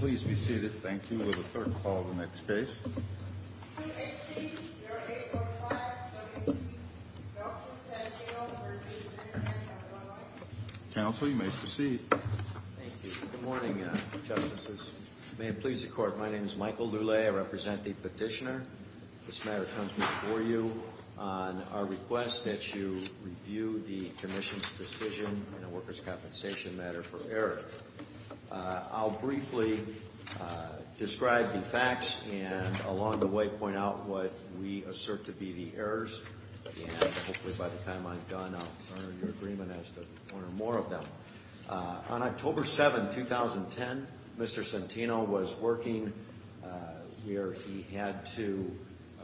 Please be seated. Thank you. We'll have a third call to the next case. 2HC 0805 W.C. Belcher-Santino v. Senator Henry. Counsel, you may proceed. Thank you. Good morning, Justices. May it please the Court, my name is Michael Lulay. I represent the petitioner. This matter comes before you on our request that you review the Commission's decision in the Workers' Compensation matter for error. I'll briefly describe the facts and along the way point out what we assert to be the errors, and hopefully by the time I'm done I'll earn your agreement as to one or more of them. On October 7, 2010, Mr. Santino was working where he had to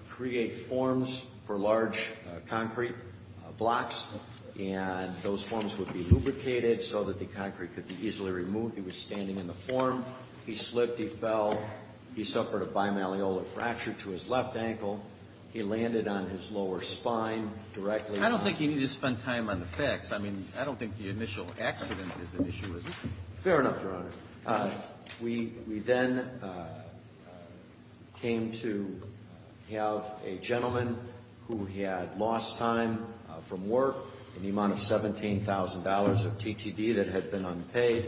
create forms for large concrete blocks, and those forms would be lubricated so that the concrete could be easily removed. He was standing in the form. He slipped. He fell. He suffered a bimalleolar fracture to his left ankle. He landed on his lower spine directly. I don't think you need to spend time on the facts. I mean, I don't think the initial accident is an issue, is it? Fair enough, Your Honor. We then came to have a gentleman who had lost time from work in the amount of $17,000 of TTD that had been unpaid,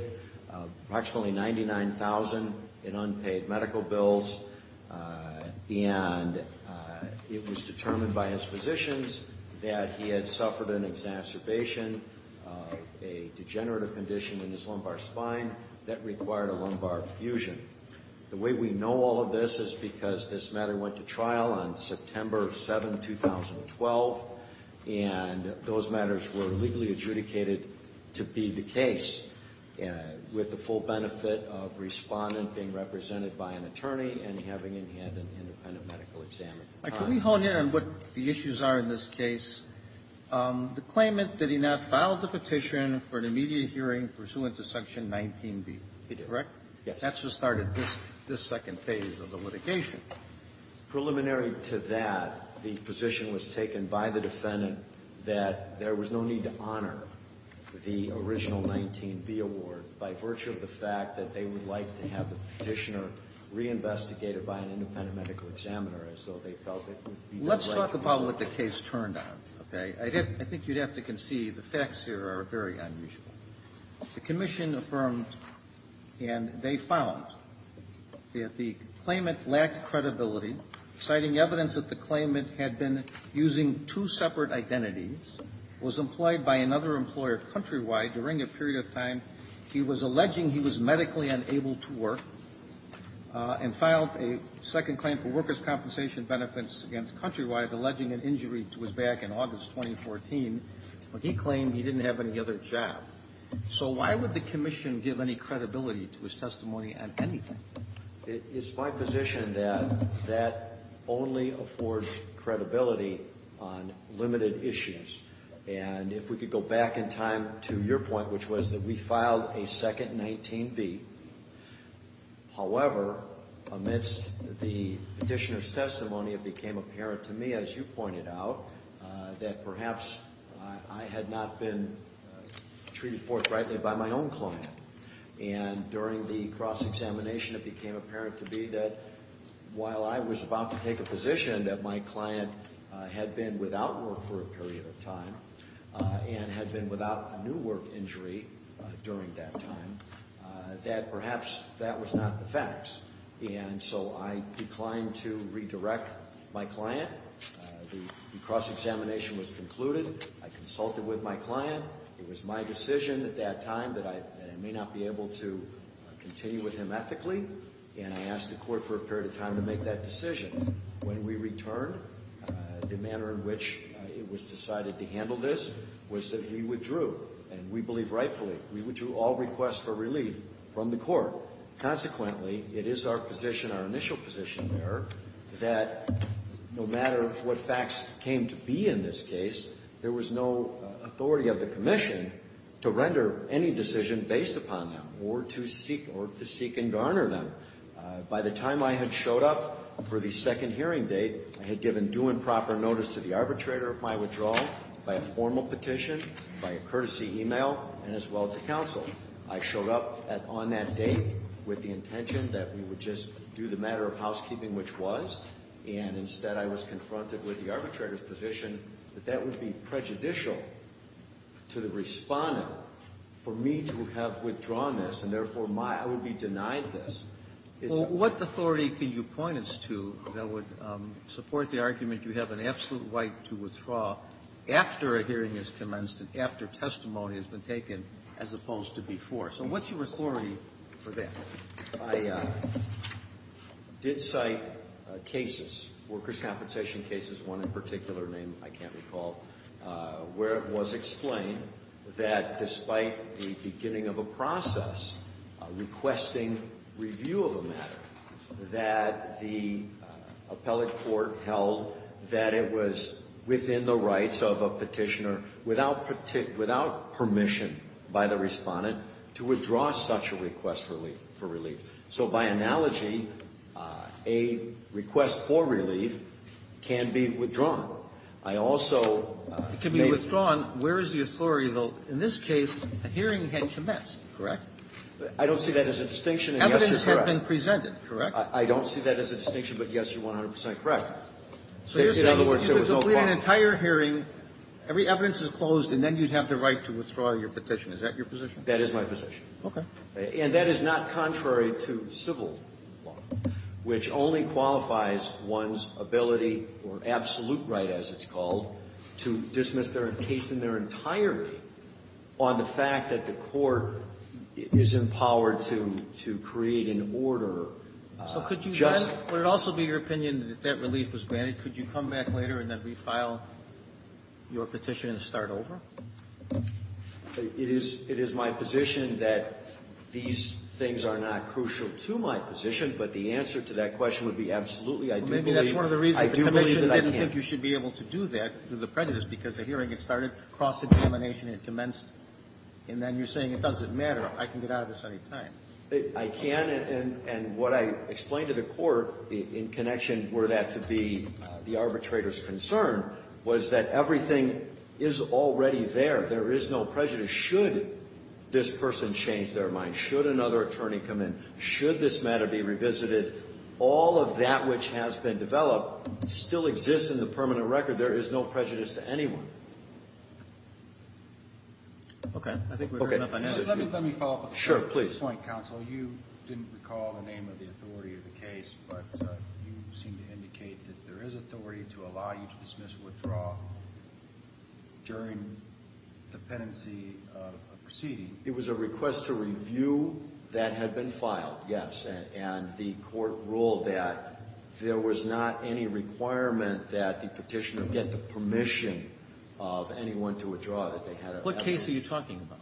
approximately $99,000 in unpaid medical bills, and it was determined by his physicians that he had suffered an exacerbation, a degenerative condition in his lumbar spine that required a lumbar fusion. The way we know all of this is because this matter went to trial on September 7, 2012, and those matters were legally adjudicated to be the case, with the full benefit of Respondent being represented by an attorney and having him hand an independent medical exam. Could we hone in on what the issues are in this case? The claimant, did he not file the petition for an immediate hearing pursuant to Section 19b? He did. Correct? That's what started this second phase of the litigation. Preliminary to that, the position was taken by the defendant that there was no need to honor the original 19b award by virtue of the fact that they would like to have the petitioner reinvestigated by an independent medical examiner as though they felt it would be the right thing to do. Let's talk about what the case turned on, okay? I think you'd have to concede the facts here are very unusual. The commission affirmed, and they found, that the claimant lacked credibility, citing evidence that the claimant had been using two separate identities, was employed by another employer countrywide during a period of time, he was alleging he was medically unable to work, and filed a second claim for workers' compensation benefits against countrywide, alleging an injury to his back in August 2014, but he claimed he didn't have any other job. So why would the commission give any credibility to his testimony on anything? It's my position that that only affords credibility on limited issues. And if we could go back in time to your point, which was that we filed a second 19b. However, amidst the petitioner's testimony, it became apparent to me, as you pointed out, that perhaps I had not been treated forthrightly by my own client. And during the cross-examination, it became apparent to me that while I was about to take a position that my client had been without work for a period of time, and had been without a new work injury during that time, that perhaps that was not the facts. And so I declined to redirect my client. The cross-examination was concluded. I consulted with my client. It was my decision at that time that I may not be able to continue with him ethically, and I asked the court for a period of time to make that decision. When we returned, the manner in which it was decided to handle this was that we withdrew, and we believe rightfully. We withdrew all requests for relief from the court. Consequently, it is our position, our initial position there, that no matter what facts came to be in this case, there was no authority of the commission to render any decision based upon them or to seek and garner them. By the time I had showed up for the second hearing date, I had given due and proper notice to the arbitrator of my withdrawal by a formal petition, by a courtesy email, and as well to counsel. I showed up on that date with the intention that we would just do the matter of housekeeping, which was, and instead I was confronted with the arbitrator's position that that would be prejudicial to the Respondent for me to have withdrawn this, and, therefore, my ---- I would be denied this. It's a ---- Well, what authority can you point us to that would support the argument you have an absolute right to withdraw after a hearing has commenced and after testimony has been taken as opposed to before? So what's your authority for that? Well, I did cite cases, workers' compensation cases, one in particular named, I can't recall, where it was explained that despite the beginning of a process requesting review of a matter, that the appellate court held that it was within the rights of a petitioner without permission by the Respondent to withdraw such a request for relief. So by analogy, a request for relief can be withdrawn. I also may ---- It can be withdrawn. Where is the authority, though? In this case, a hearing had commenced, correct? I don't see that as a distinction. Evidence had been presented, correct? I don't see that as a distinction, but, yes, you're 100 percent correct. In other words, there was no problem. So if you complete an entire hearing, every evidence is closed, and then you'd have the right to withdraw your petition. Is that your position? That is my position. Okay. And that is not contrary to civil law, which only qualifies one's ability or absolute right, as it's called, to dismiss their case in their entirety on the fact that the court is empowered to create an order just ---- So could you then ---- would it also be your opinion that that relief was granted? Could you come back later and then refile your petition and start over? It is my position that these things are not crucial to my position, but the answer to that question would be, absolutely, I do believe that I can't. Well, maybe that's one of the reasons the Commission didn't think you should be able to do that through the prejudice, because the hearing had started, cross-examination had commenced, and then you're saying it doesn't matter, I can get out of this any time. I can, and what I explained to the court in connection were that to be the arbitrator's concern was that everything is already there, there is no prejudice. Should this person change their mind, should another attorney come in, should this matter be revisited, all of that which has been developed still exists in the permanent record. There is no prejudice to anyone. Okay. I think we've heard enough on that. Let me follow up with a point, counsel. You didn't recall the name of the authority of the case, but you seem to indicate that there is authority to allow you to dismiss or withdraw during the pendency of a proceeding. It was a request to review that had been filed, yes, and the court ruled that there was not any requirement that the Petitioner get the permission of anyone to withdraw that they had a pendency. What case are you talking about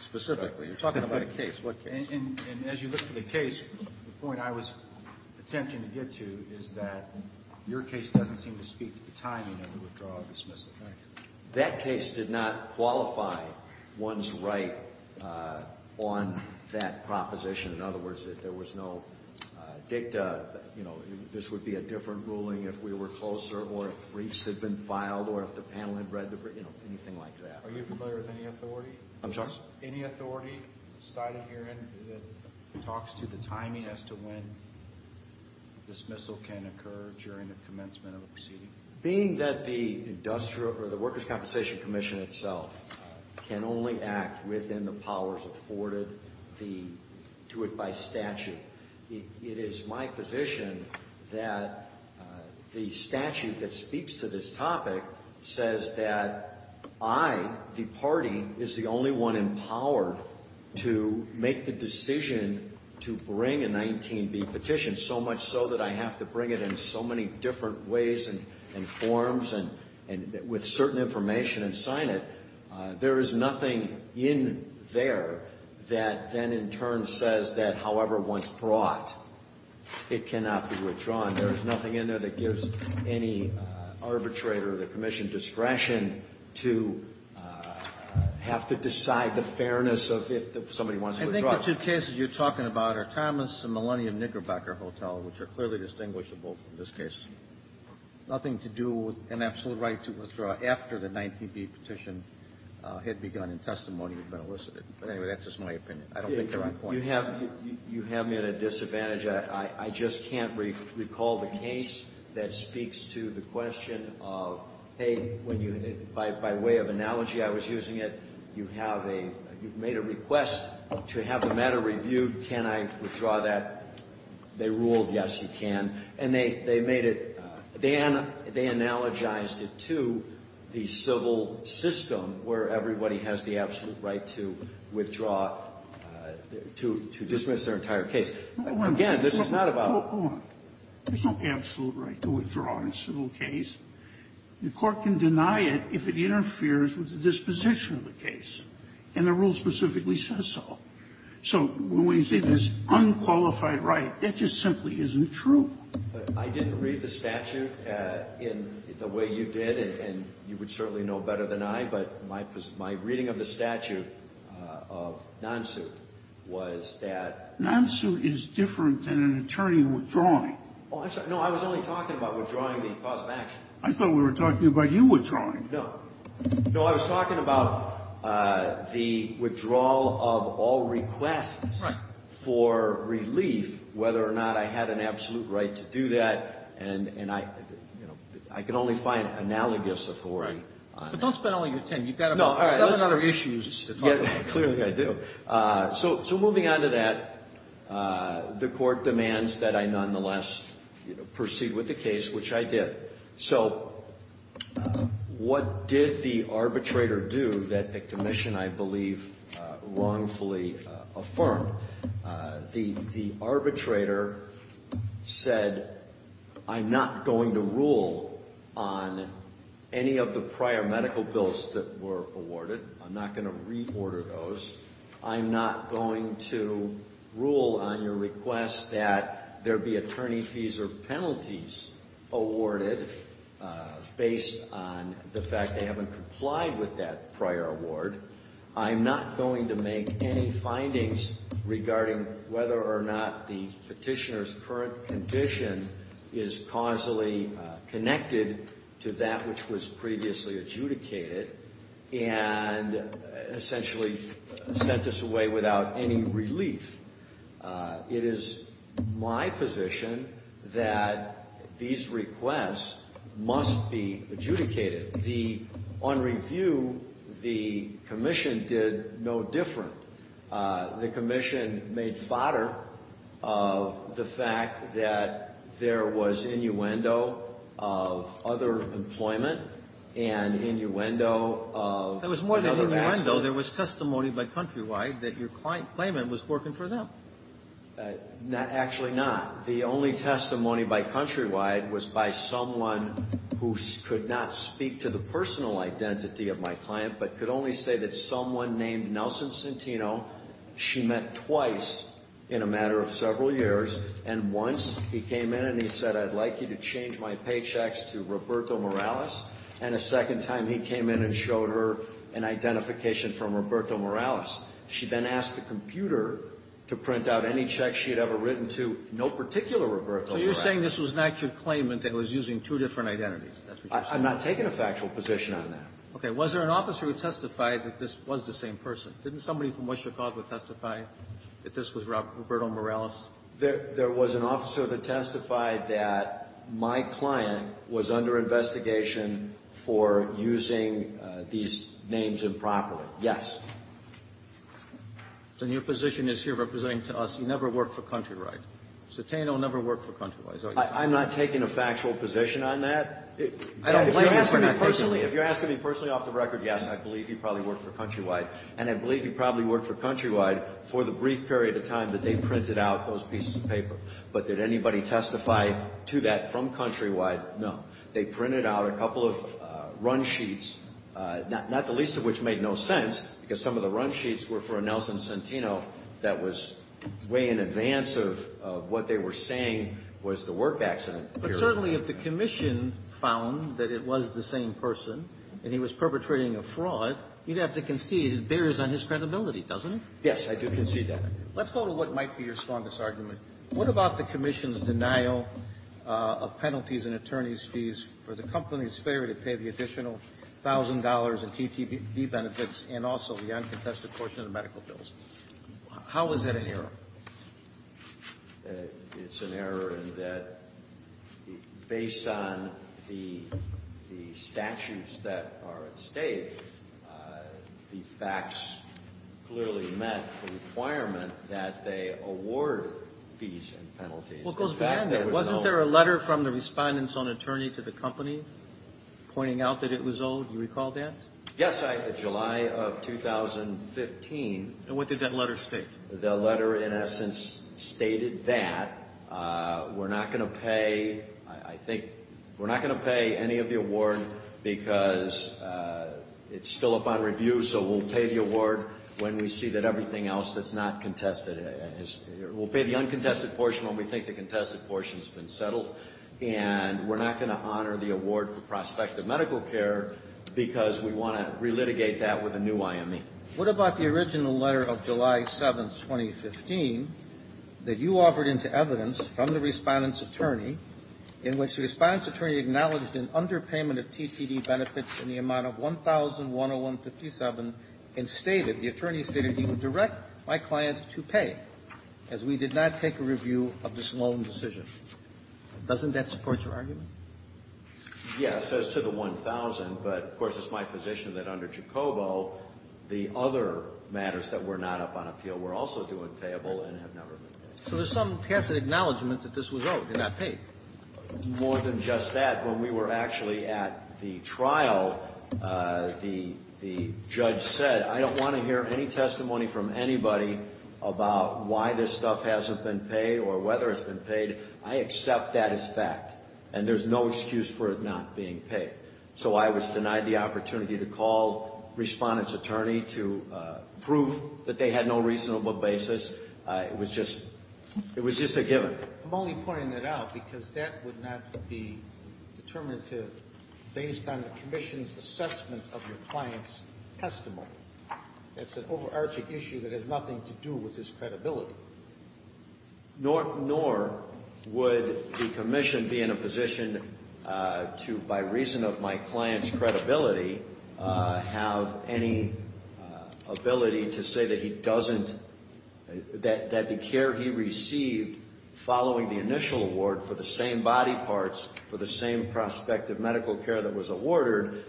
specifically? You're talking about a case. And as you look at the case, the point I was attempting to get to is that your case doesn't seem to speak to the timing of the withdrawal or dismissal. That case did not qualify one's right on that proposition. In other words, if there was no dicta, you know, this would be a different ruling if we were closer or if briefs had been filed or if the panel had read the brief, you know, anything like that. Are you familiar with any authority? I'm sorry? Any authority cited here that talks to the timing as to when dismissal can occur during the commencement of a proceeding? Being that the Industrial or the Workers' Compensation Commission itself can only act within the powers afforded to it by statute, it is my position that the statute that speaks to this topic says that I, the party, is the only one empowered to make the decision to bring a 19B petition, so much so that I have to bring it in so many different ways and forms and with certain information and sign it. There is nothing in there that then in turn says that however one's brought, it cannot be withdrawn. There is nothing in there that gives any arbitrator of the commission discretion to have to decide the fairness of if somebody wants to withdraw. I think the two cases you're talking about are Thomas and Millennium Knickerbocker Hotel, which are clearly distinguishable from this case. Nothing to do with an absolute right to withdraw after the 19B petition had begun and testimony had been elicited. But anyway, that's just my opinion. I don't think they're on point. You have me at a disadvantage. I just can't recall the case that speaks to the question of, hey, when you, by way of analogy I was using it, you have a, you've made a request to have the matter reviewed, can I withdraw that? They ruled yes, you can. And they made it, they analogized it to the civil system where everybody has the absolute right to withdraw, to dismiss their entire case. Again, this is not about the civil case. No, hold on. There's no absolute right to withdraw in a civil case. The Court can deny it if it interferes with the disposition of the case. And the rule specifically says so. So when we say there's unqualified right, that just simply isn't true. But I didn't read the statute in the way you did, and you would certainly know better than I, but my reading of the statute of non-suit was that the statute of non-suit is different than an attorney withdrawing. Oh, I'm sorry. No, I was only talking about withdrawing the cause of action. I thought we were talking about you withdrawing. No. No, I was talking about the withdrawal of all requests for relief, whether or not I had an absolute right to do that. And I, you know, I can only find analogous authority on that. But don't spend all your time. You've got about seven other issues to talk about. Clearly I do. So moving on to that, the Court demands that I nonetheless proceed with the case, which I did. So what did the arbitrator do that the Commission, I believe, wrongfully affirmed? The arbitrator said, I'm not going to rule on any of the prior medical bills that were awarded. I'm not going to reorder those. I'm not going to rule on your request that there be attorney fees or penalties awarded based on the fact they haven't complied with that prior award. I'm not going to make any findings regarding whether or not the petitioner's current condition is causally connected to that which was previously adjudicated and essentially sent us away without any relief. It is my position that these requests must be adjudicated. On review, the Commission did no different. The Commission made fodder of the fact that there was innuendo of other employment and innuendo of another accident. It was more than innuendo. There was testimony by Countrywide that your claimant was working for them. Actually not. The only testimony by Countrywide was by someone who could not speak to the personal identity of my client, but could only say that someone named Nelson Centino, she met twice in a matter of several years, and once he came in and he said, I'd like you to change my paychecks to Roberto Morales, and a second time he came in and showed her an identification from Roberto Morales. She then asked the computer to print out any checks she had ever written to no particular Roberto Morales. So you're saying this was an actual claimant that was using two different identities. I'm not taking a factual position on that. Okay. Was there an officer who testified that this was the same person? Didn't somebody from West Chicago testify that this was Roberto Morales? There was an officer that testified that my client was under investigation for using these names improperly. Yes. Then your position is here representing to us you never worked for Countrywide. Centino never worked for Countrywide. I'm not taking a factual position on that. If you're asking me personally off the record, yes, I believe he probably worked for Countrywide, and I believe he probably worked for Countrywide for the brief period of time that they printed out those pieces of paper. But did anybody testify to that from Countrywide? No. They printed out a couple of run sheets, not the least of which made no sense, because some of the run sheets were for a Nelson Centino that was way in advance of what they were saying was the work accident. But certainly if the commission found that it was the same person and he was perpetrating a fraud, you'd have to concede it bears on his credibility, doesn't it? Yes, I do concede that. Let's go to what might be your strongest argument. What about the commission's denial of penalties and attorney's fees for the company's failure to pay the additional $1,000 in TTV benefits and also the uncontested portion of the medical bills? How is that an error? It's an error in that based on the statutes that are at stake, the facts clearly met the requirement that they award fees and penalties. Well, it goes beyond that. Wasn't there a letter from the respondent's own attorney to the company pointing out that it was owed? Do you recall that? Yes. In July of 2015. And what did that letter state? The letter in essence stated that we're not going to pay, I think, we're not going to pay any of the award because it's still up on review, so we'll pay the award when we see that everything else that's not contested is, we'll pay the uncontested portion when we think the contested portion has been settled. And we're not going to honor the award for prospective medical care because we want to relitigate that with a new IME. What about the original letter of July 7th, 2015, that you offered into evidence from the respondent's attorney in which the respondent's attorney acknowledged an underpayment of TTD benefits in the amount of $1,101.57 and stated, the attorney stated he would direct my client to pay as we did not take a review of this loan decision. Doesn't that support your argument? Yes, as to the $1,000. But, of course, it's my position that under Jacobo, the other matters that were not up on appeal were also due and payable and have never been paid. So there's some tacit acknowledgment that this was owed and not paid. More than just that. When we were actually at the trial, the judge said, I don't want to hear any testimony from anybody about why this stuff hasn't been paid or whether it's been paid. I accept that as fact. And there's no excuse for it not being paid. So I was denied the opportunity to call respondent's attorney to prove that they had no reasonable basis. It was just a given. I'm only pointing that out because that would not be determinative based on the commission's assessment of your client's testimony. It's an overarching issue that has nothing to do with his credibility. Nor would the commission be in a position to, by reason of my client's credibility, have any ability to say that he doesn't, that the care he received following the initial award for the same body parts, for the same prospective medical care that was awarded,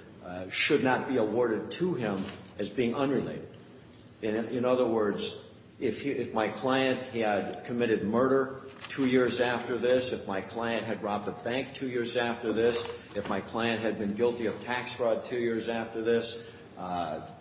should not be awarded to him as being unrelated. In other words, if my client had committed murder two years after this, if my client had robbed a bank two years after this, if my client had been guilty of tax fraud two years after this,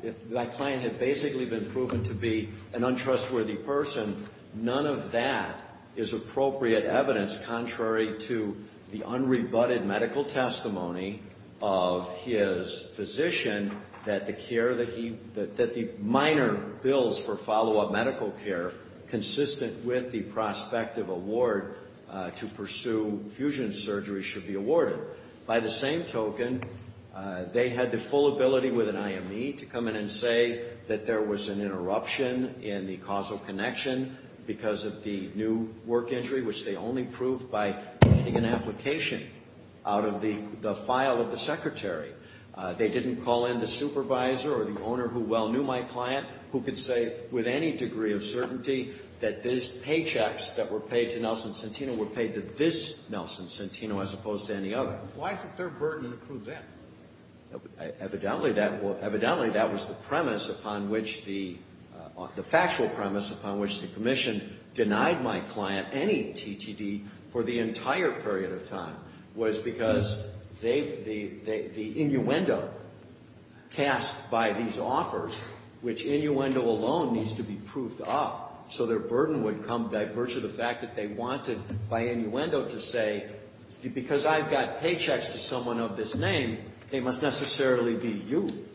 if my client had basically been proven to be an untrustworthy person, none of that is appropriate evidence contrary to the unrebutted medical testimony of his physician that the care that he, that the minor bills for follow-up medical care consistent with the prospective award to pursue fusion surgery should be awarded. By the same token, they had the full ability with an IME to come in and say that there was an interruption in the causal connection because of the new work injury, which they only proved by getting an application out of the file of the secretary. They didn't call in the supervisor or the owner who well knew my client who could say with any degree of certainty that these paychecks that were paid to Nelson Centino were paid to this Nelson Centino as opposed to any other. Why is it their burden to prove that? Evidently, that was the premise upon which the, the factual premise upon which the commission denied my client any TTD for the entire period of time was because they, the, the innuendo cast by these offers, which innuendo alone needs to be proved up, so their burden would come by virtue of the fact that they wanted by innuendo to say, because I've got paychecks to someone of this name, they must necessarily be you.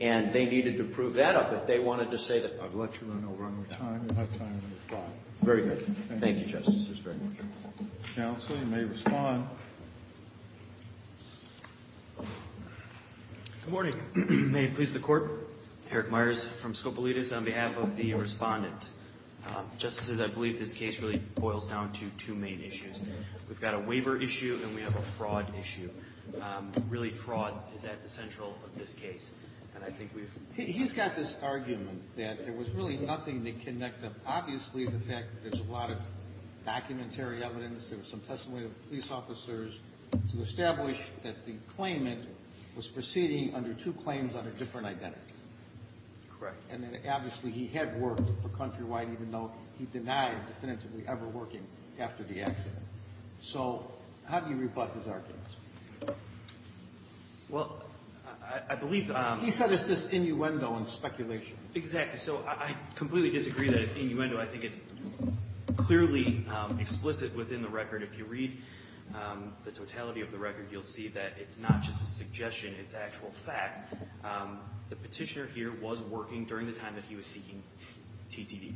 And they needed to prove that up if they wanted to say that I've let you run over on your time. You have time to respond. Very good. Thank you, Justice. Counsel, you may respond. Good morning. May it please the court. Eric Myers from Scopoletus on behalf of the respondent. Justices, I believe this case really boils down to two main issues. We've got a waiver issue and we have a fraud issue. Really, fraud is at the central of this case. And I think we've... He's got this argument that there was really nothing to connect them. Obviously, the fact that there's a lot of documentary evidence, there was some way for police officers to establish that the claimant was proceeding under two claims on a different identity. Correct. And then, obviously, he had worked for Countrywide, even though he denied definitively ever working after the accident. So, how do you rebut his argument? Well, I believe... He said it's just innuendo and speculation. Exactly. So, I completely disagree that it's innuendo. I think it's clearly explicit within the record. If you read the totality of the record, you'll see that it's not just a suggestion, it's actual fact. The petitioner here was working during the time that he was seeking TTD.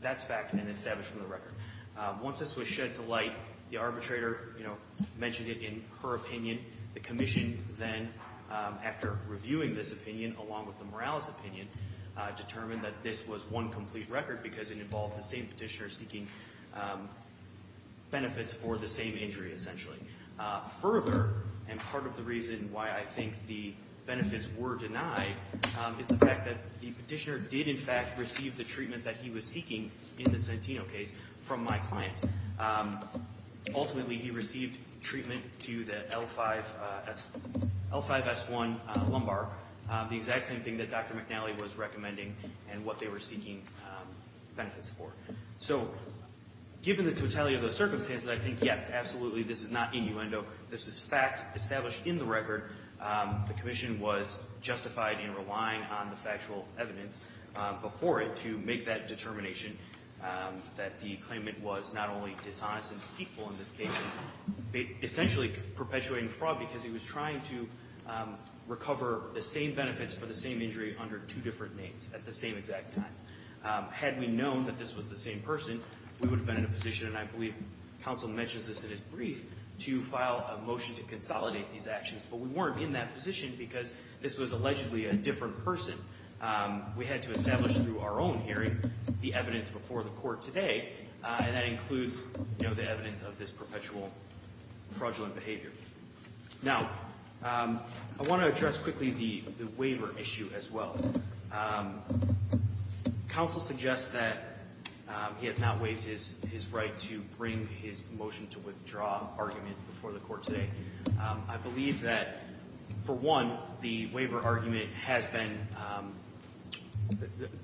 That's fact and established from the record. Once this was shed to light, the arbitrator mentioned it in her opinion. The commission then, after reviewing this opinion along with the Morales opinion, determined that this was one complete record because it involved the same petitioner seeking benefits for the same injury, essentially. Further, and part of the reason why I think the benefits were denied, is the fact that the petitioner did, in fact, receive the treatment that he was seeking in the Santino case from my client. Ultimately, he received treatment to the L5S1 lumbar. The exact same thing that Dr. McNally was recommending and what they were seeking benefits for. So, given the totality of those circumstances, I think, yes, absolutely, this is not innuendo. This is fact established in the record. The commission was justified in relying on the factual evidence before it to make that determination that the claimant was not only dishonest and deceitful in this case, but essentially perpetuating fraud because he was trying to recover the same benefits for the same injury under two different names at the same exact time. Had we known that this was the same person, we would have been in a position, and I believe counsel mentions this in his brief, to file a motion to consolidate these actions. But we weren't in that position because this was allegedly a different person. We had to establish through our own hearing the evidence before the court today, and that includes the evidence of this perpetual fraudulent behavior. Now, I want to address quickly the waiver issue as well. Counsel suggests that he has not waived his right to bring his motion to withdraw argument before the court today. I believe that, for one, the waiver argument has been,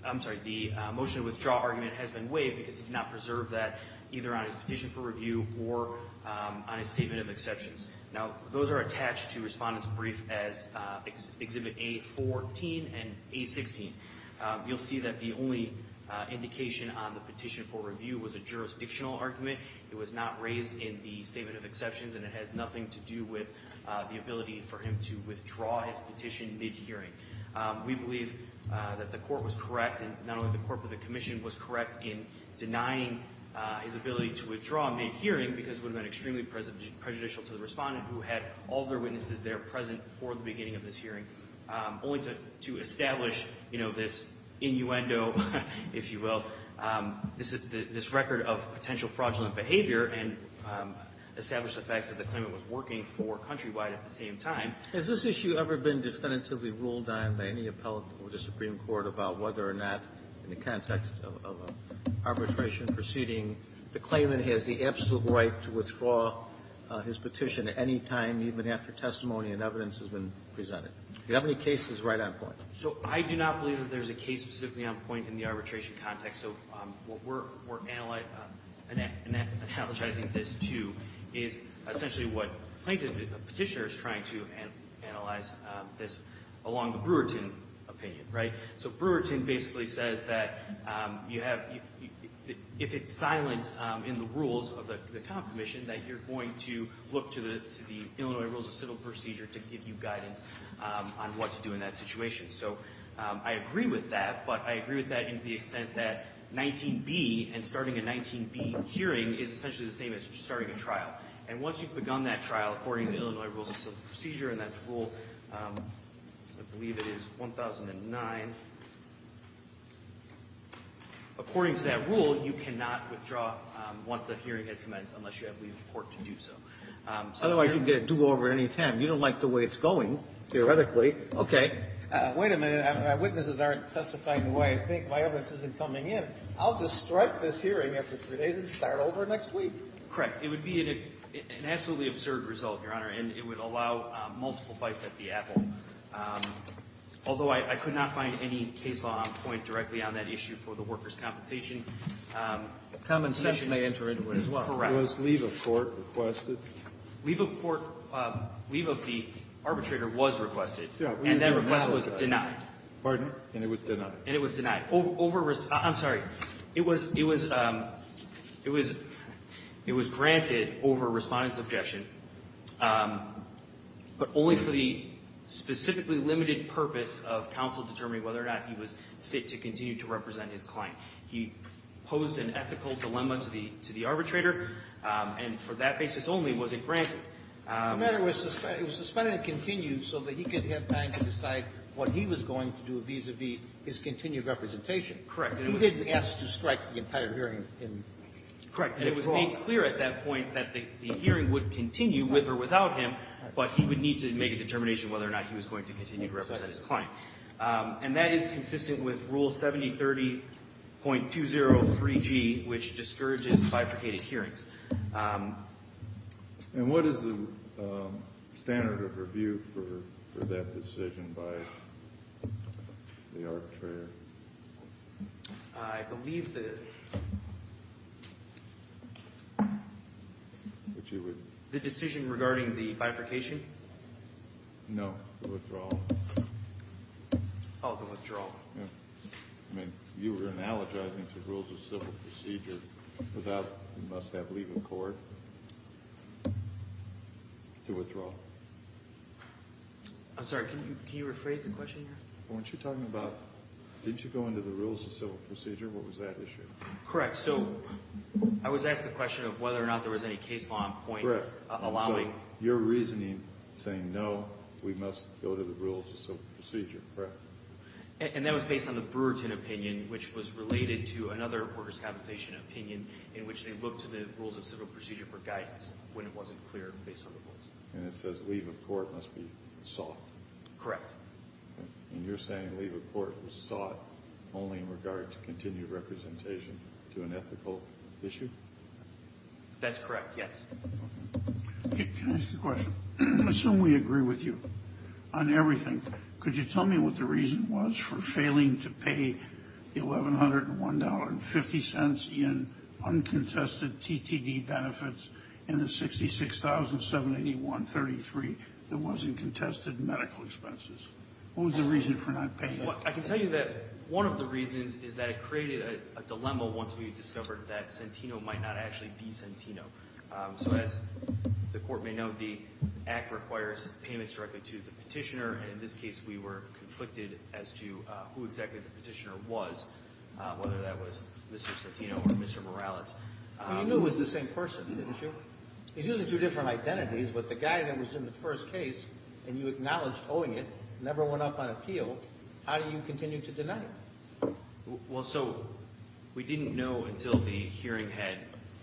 I'm sorry, the motion to withdraw argument has been waived because he did not preserve that either on his petition for review or on his statement of exceptions. Now, those are attached to Respondent's Brief as Exhibit A14 and A16. You'll see that the only indication on the petition for review was a jurisdictional argument. It was not raised in the statement of exceptions, and it has nothing to do with the ability for him to withdraw his petition mid-hearing. We believe that the court was correct, and not only the court, but the commission was correct in denying his ability to withdraw mid-hearing because it would have been extremely prejudicial to the Respondent who had all of their witnesses there present before the beginning of this hearing, only to establish this innuendo, if you will, this record of potential fraudulent behavior and establish the facts that the claimant was working for Countrywide at the same time. Has this issue ever been definitively ruled on by any appellate or the Supreme Court about whether or not, in the context of an arbitration proceeding, the claimant has the absolute right to withdraw his petition at any time, even after testimony and evidence has been presented? Do you have any cases right on point? So I do not believe that there's a case specifically on point in the arbitration context. So what we're analyzing this to is essentially what plaintiff petitioner is trying to analyze this along the Brewerton opinion, right? So Brewerton basically says that if it's silent in the rules of the confirmation, that you're going to look to the Illinois Rules of Civil Procedure to give you guidance on what to do in that situation. So I agree with that, but I agree with that in the extent that 19b and starting a 19b hearing is essentially the same as starting a trial. And once you've begun that trial, according to the Illinois Rules of Civil Procedure, and that's Rule, I believe it is 1009, according to that rule, you cannot withdraw once the hearing has commenced unless you have legal support to do so. Otherwise, you can get a do-over at any time. You don't like the way it's going, theoretically. Okay. Wait a minute. My witnesses aren't testifying the way I think. My evidence isn't coming in. I'll just strike this hearing after three days and start over next week. Correct. It would be an absolutely absurd result, Your Honor, and it would allow multiple bites at the apple. Although I could not find any case law on point directly on that issue for the workers' compensation. The compensation may enter into it as well. Correct. Was leave of court requested? Leave of court – leave of the arbitrator was requested. Yeah. And that request was denied. Pardon? And it was denied. And it was denied. Over – I'm sorry. It was – it was – it was – it was granted over Respondent's objection, but only for the specifically limited purpose of counsel determining whether or not he was fit to continue to represent his client. He posed an ethical dilemma to the – to the arbitrator, and for that basis only was it granted. The matter was suspended – it was suspended and continued so that he could have time to decide what he was going to do vis-à-vis his continued representation. He didn't ask to strike the entire hearing. Correct. And it was made clear at that point that the hearing would continue with or without him, but he would need to make a determination whether or not he was going to continue to represent his client. And that is consistent with Rule 7030.203G, which discourages bifurcated hearings. And what is the standard of review for that decision by the arbitrator? I believe the – Would you – The decision regarding the bifurcation? No, the withdrawal. Oh, the withdrawal. Yeah. I mean, you were analogizing to Rules of Civil Procedure without – you must have leave of court to withdraw. I'm sorry, can you rephrase the question? Weren't you talking about – didn't you go into the Rules of Civil Procedure? What was that issue? Correct. So I was asked the question of whether or not there was any case law in point allowing – Correct. So your reasoning saying, no, we must go to the Rules of Civil Procedure. Correct. And that was based on the Brewerton opinion, which was related to another workers' compensation opinion in which they looked to the Rules of Civil Procedure for guidance when it wasn't clear based on the rules. And it says leave of court must be sought. Correct. And you're saying leave of court was sought only in regard to continued representation to an ethical issue? That's correct, yes. Can I ask you a question? Assume we agree with you on everything. Could you tell me what the reason was for failing to pay $1,101.50 in uncontested TTD benefits and the $66,781.33 that was in contested medical expenses? What was the reason for not paying it? I can tell you that one of the reasons is that it created a dilemma once we discovered that Centino might not actually be Centino. So as the Court may know, the Act requires payments directly to the Petitioner, and in this case we were conflicted as to who exactly the Petitioner was, whether that was Mr. Centino or Mr. Morales. Well, you knew it was the same person, didn't you? He's using two different identities, but the guy that was in the first case and you acknowledged owing it never went up on appeal. How do you continue to deny it? Well, so we didn't know until the hearing had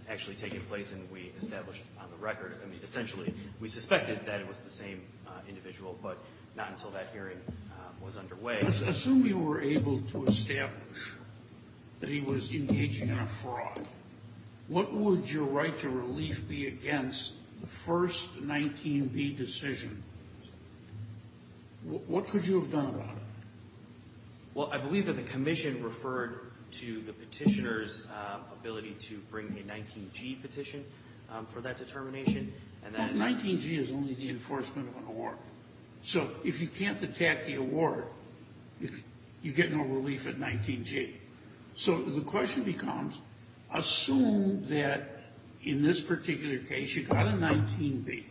actually taken place and we established on the record. I mean, essentially, we suspected that it was the same individual, but not until that hearing was underway. Assume you were able to establish that he was engaging in a fraud. What would your right to relief be against the first 19B decision? What could you have done about it? Well, I believe that the Commission referred to the Petitioner's ability to bring a 19G petition for that determination. 19G is only the enforcement of an award. So if you can't attack the award, you get no relief at 19G. So the question becomes, assume that in this particular case you got a 19B,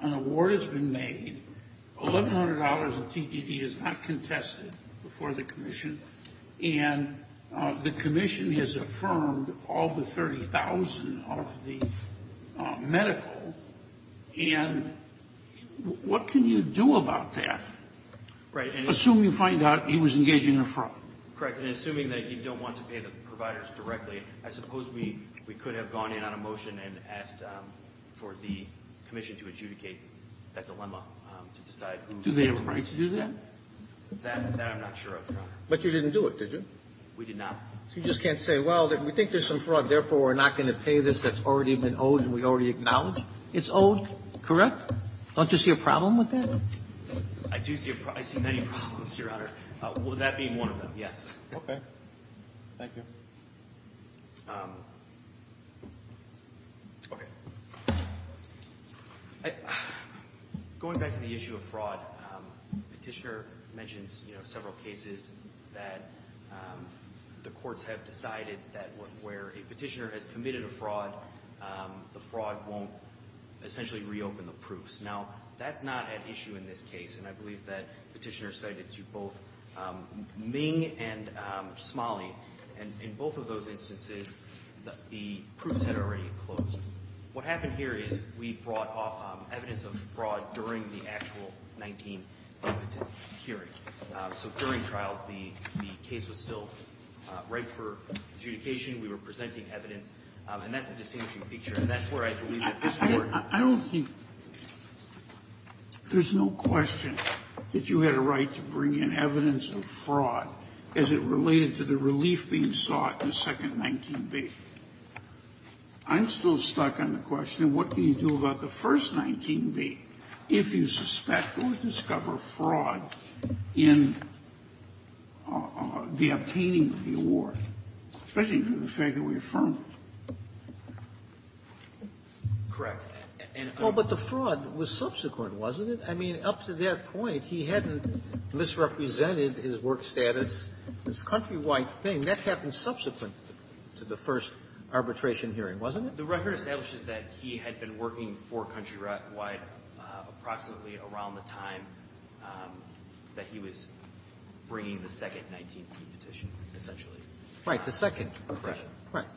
an award has been made, $1,100 in TDD is not contested before the Commission, and the Commission has affirmed all the $30,000 of the medical, and what can you do about that? Assume you find out he was engaging in a fraud. Correct, and assuming that you don't want to pay the providers directly, I suppose we could have gone in on a motion and asked for the Commission to adjudicate that dilemma to decide who gets to pay. Do they have a right to do that? That I'm not sure of, Your Honor. But you didn't do it, did you? We did not. So you just can't say, well, we think there's some fraud, therefore we're not going to pay this that's already been owed and we already acknowledge it's owed? Correct? Don't you see a problem with that? I do see a problem. I see many problems, Your Honor. That being one of them, yes. Okay. Thank you. Okay. Going back to the issue of fraud, Petitioner mentions several cases that the courts have decided that where a petitioner has committed a fraud, the fraud won't essentially reopen the proofs. Now, that's not at issue in this case, and I believe that Petitioner cited to both Ming and Smalley. And in both of those instances, the proofs had already closed. What happened here is we brought evidence of fraud during the actual 19th hearing. So during trial, the case was still right for adjudication. We were presenting evidence. And that's a distinguishing feature. And that's where I believe that this court I don't think there's no question that you had a right to bring in evidence of fraud as it related to the relief being sought in the second 19B. I'm still stuck on the question, what do you do about the first 19B if you suspect or discover fraud in the obtaining of the award, especially due to the fact that we affirmed it? Correct. Oh, but the fraud was subsequent, wasn't it? I mean, up to that point, he hadn't misrepresented his work status as a countrywide thing. That happened subsequent to the first arbitration hearing, wasn't it? The record establishes that he had been working for Countrywide approximately around the time that he was bringing the second 19B petition, essentially. Right, the second. Correct.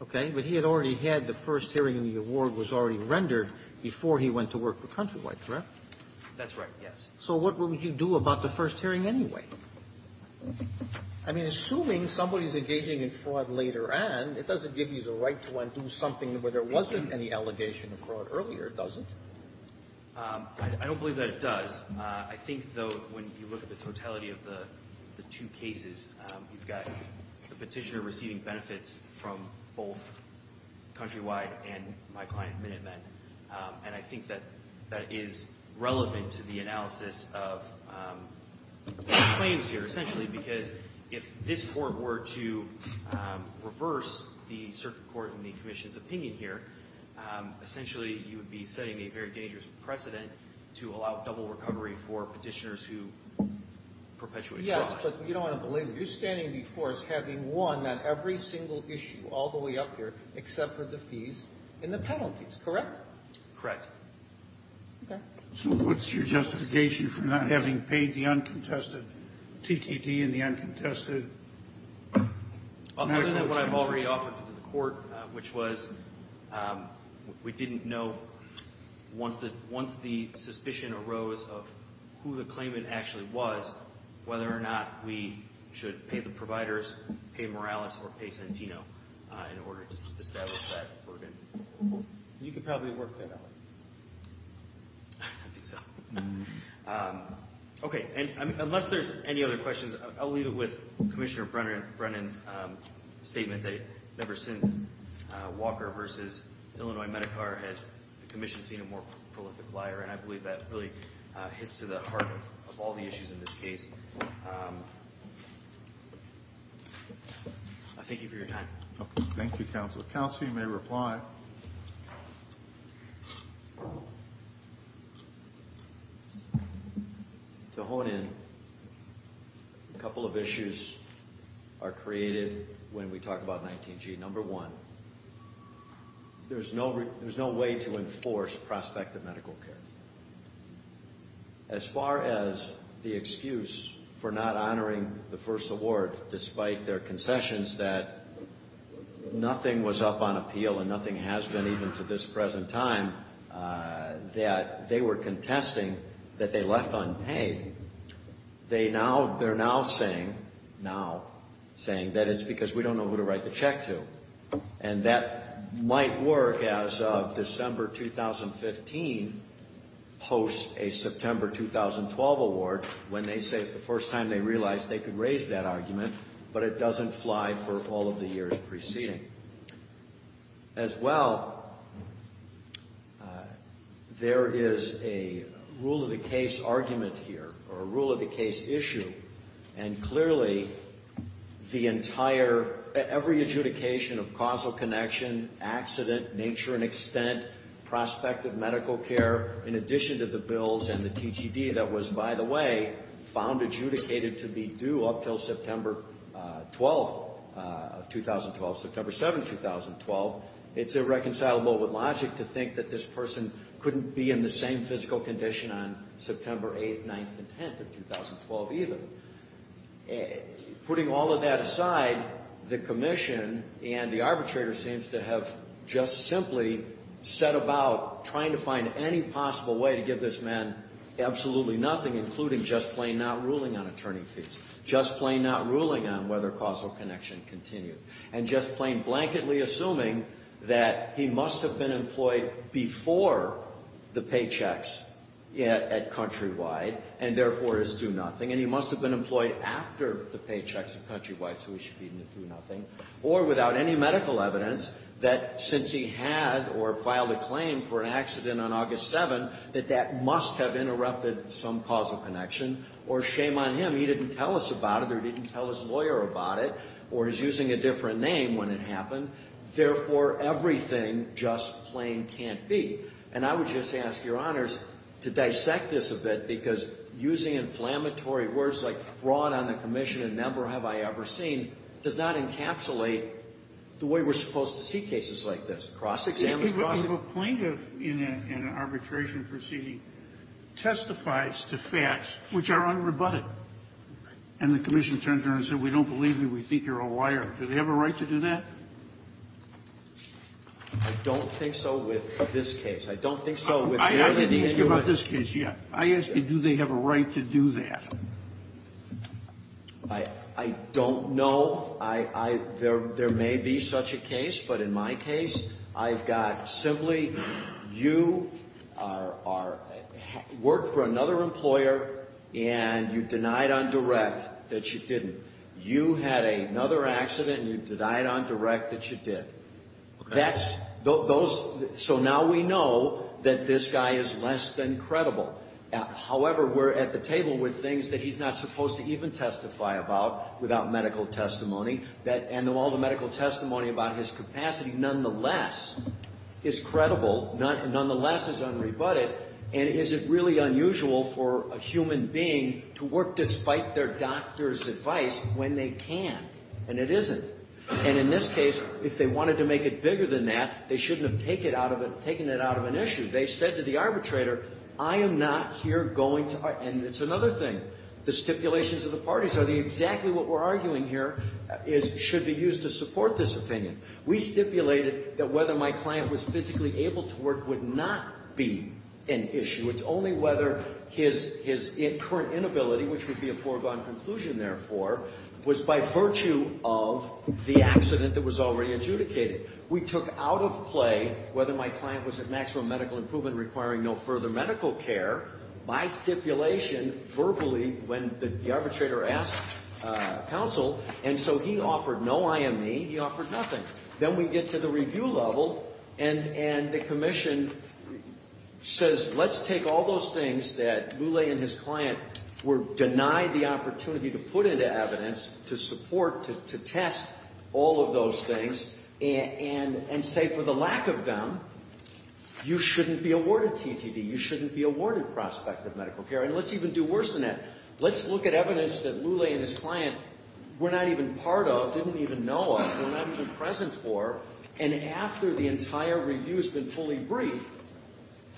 Okay. But he had already had the first hearing and the award was already rendered before he went to work for Countrywide, correct? That's right, yes. So what would you do about the first hearing anyway? I mean, assuming somebody's engaging in fraud later on, it doesn't give you the right to undo something where there wasn't any allegation of fraud earlier, does it? I don't believe that it does. I think, though, when you look at the totality of the two cases, you've got the petitioner receiving benefits from both Countrywide and my client, Minutemen, and I think that that is relevant to the analysis of the claims here, essentially, because if this Court were to reverse the Circuit Court and the Commission's opinion here, essentially you would be setting a very dangerous precedent to allow double recovery for petitioners who perpetuate fraud. Yes, but you don't want to believe it. You're standing before us having won on every single issue all the way up here except for the fees and the penalties, correct? Correct. Okay. So what's your justification for not having paid the uncontested TTT and the uncontested medical insurance? Other than what I've already offered to the Court, which was we didn't know once the suspicion arose of who the claimant actually was, whether or not we should pay the providers, pay Morales, or pay Santino in order to establish that organ. You could probably work that out. I think so. Okay, and unless there's any other questions, I'll leave it with Commissioner Brennan's statement that ever since Walker v. Illinois Medicar has the Commission seen a more prolific liar, and I believe that really hits to the heart of all the issues in this case. Thank you for your time. Thank you, Counselor. Counsel, you may reply. To hone in, a couple of issues are created when we talk about 19G. Number one, there's no way to enforce prospective medical care. As far as the excuse for not honoring the first award despite their concessions that nothing was up on appeal and nothing has been even to this present time, that they were contesting that they left unpaid, they're now saying that it's because we don't know who to write the check to. And that might work as of December 2015 post a September 2012 award when they say it's the first time they realized they could raise that argument, but it doesn't fly for all of the years preceding. As well, there is a rule-of-the-case argument here, or a rule-of-the-case issue, and clearly the entire, every adjudication of causal connection, accident, nature and extent, prospective medical care, in addition to the bills and the TGD that was, by the way, found adjudicated to be due up until September 12, 2012, September 7, 2012, it's irreconcilable with logic to think that this person couldn't be in the same physical condition on September 8th, 9th and 10th of 2012 either. Putting all of that aside, the commission and the arbitrator seems to have just simply set about trying to find any possible way to give this man absolutely nothing, including just plain not ruling on attorney fees, just plain not ruling on whether causal connection continued, and just plain blanketly assuming that he must have been employed before the paychecks at Countrywide, and therefore is do-nothing, and he must have been employed after the paychecks at Countrywide, so he should be in the do-nothing, or without any medical evidence that since he had or filed a claim for an accident on August 7th, that that must have interrupted some causal connection, or shame on him, he didn't tell us about it or didn't tell his lawyer about it or is using a different name when it happened, therefore everything just plain can't be. And I would just ask Your Honors to dissect this a bit because using inflammatory words like fraud on the commission and never have I ever seen does not encapsulate the way we're supposed to see cases like this, cross-examination. If a plaintiff in an arbitration proceeding testifies to facts which are unrebutted and the commission turns around and says we don't believe you, we think you're a liar, do they have a right to do that? I don't think so with this case. I don't think so with the other case. I didn't ask you about this case yet. I asked you do they have a right to do that. I don't know. There may be such a case, but in my case I've got simply you worked for another employer and you denied on direct that you didn't. You had another accident and you denied on direct that you did. So now we know that this guy is less than credible. However, we're at the table with things that he's not supposed to even testify about without medical testimony and all the medical testimony about his capacity nonetheless is credible, nonetheless is unrebutted and is it really unusual for a human being to work despite their doctor's advice when they can and it isn't. And in this case if they wanted to make it bigger than that they shouldn't have taken it out of an issue. They said to the arbitrator I am not here going to argue and it's another thing the stipulations of the parties are exactly what we're arguing here should be used to support this opinion. We stipulated that whether my client was physically able to work would not be an issue. It's only whether his current inability which would be a foregone conclusion therefore was by virtue of the accident that was already adjudicated. We took out of play whether my client was at maximum medical improvement requiring no further medical care by stipulation verbally when the arbitrator asked counsel and so he offered no IME he offered nothing. Then we get to the review level and the commission says let's take all those things that Lule and his client were denied the opportunity to put into evidence to support to test all of those things and say for the lack of them you shouldn't be awarded TTD you shouldn't be awarded prospective medical care and let's even do worse than that. Let's look at evidence that Lule and his client were not even part of didn't even know of were not even present for and after the entire review has been fully briefed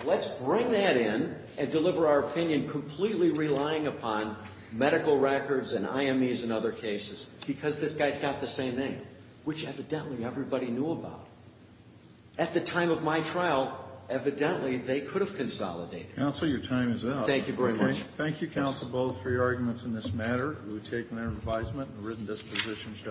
let's bring that in and deliver our opinion completely relying upon medical records and IME's and other cases because this guy's got the same name which evidently everybody knew about. At the time of my trial evidently they could have consolidated. Counsel your time is up. Thank you for your question. Thank you counsel both for your arguments in this matter we've taken our advisement and written dispositions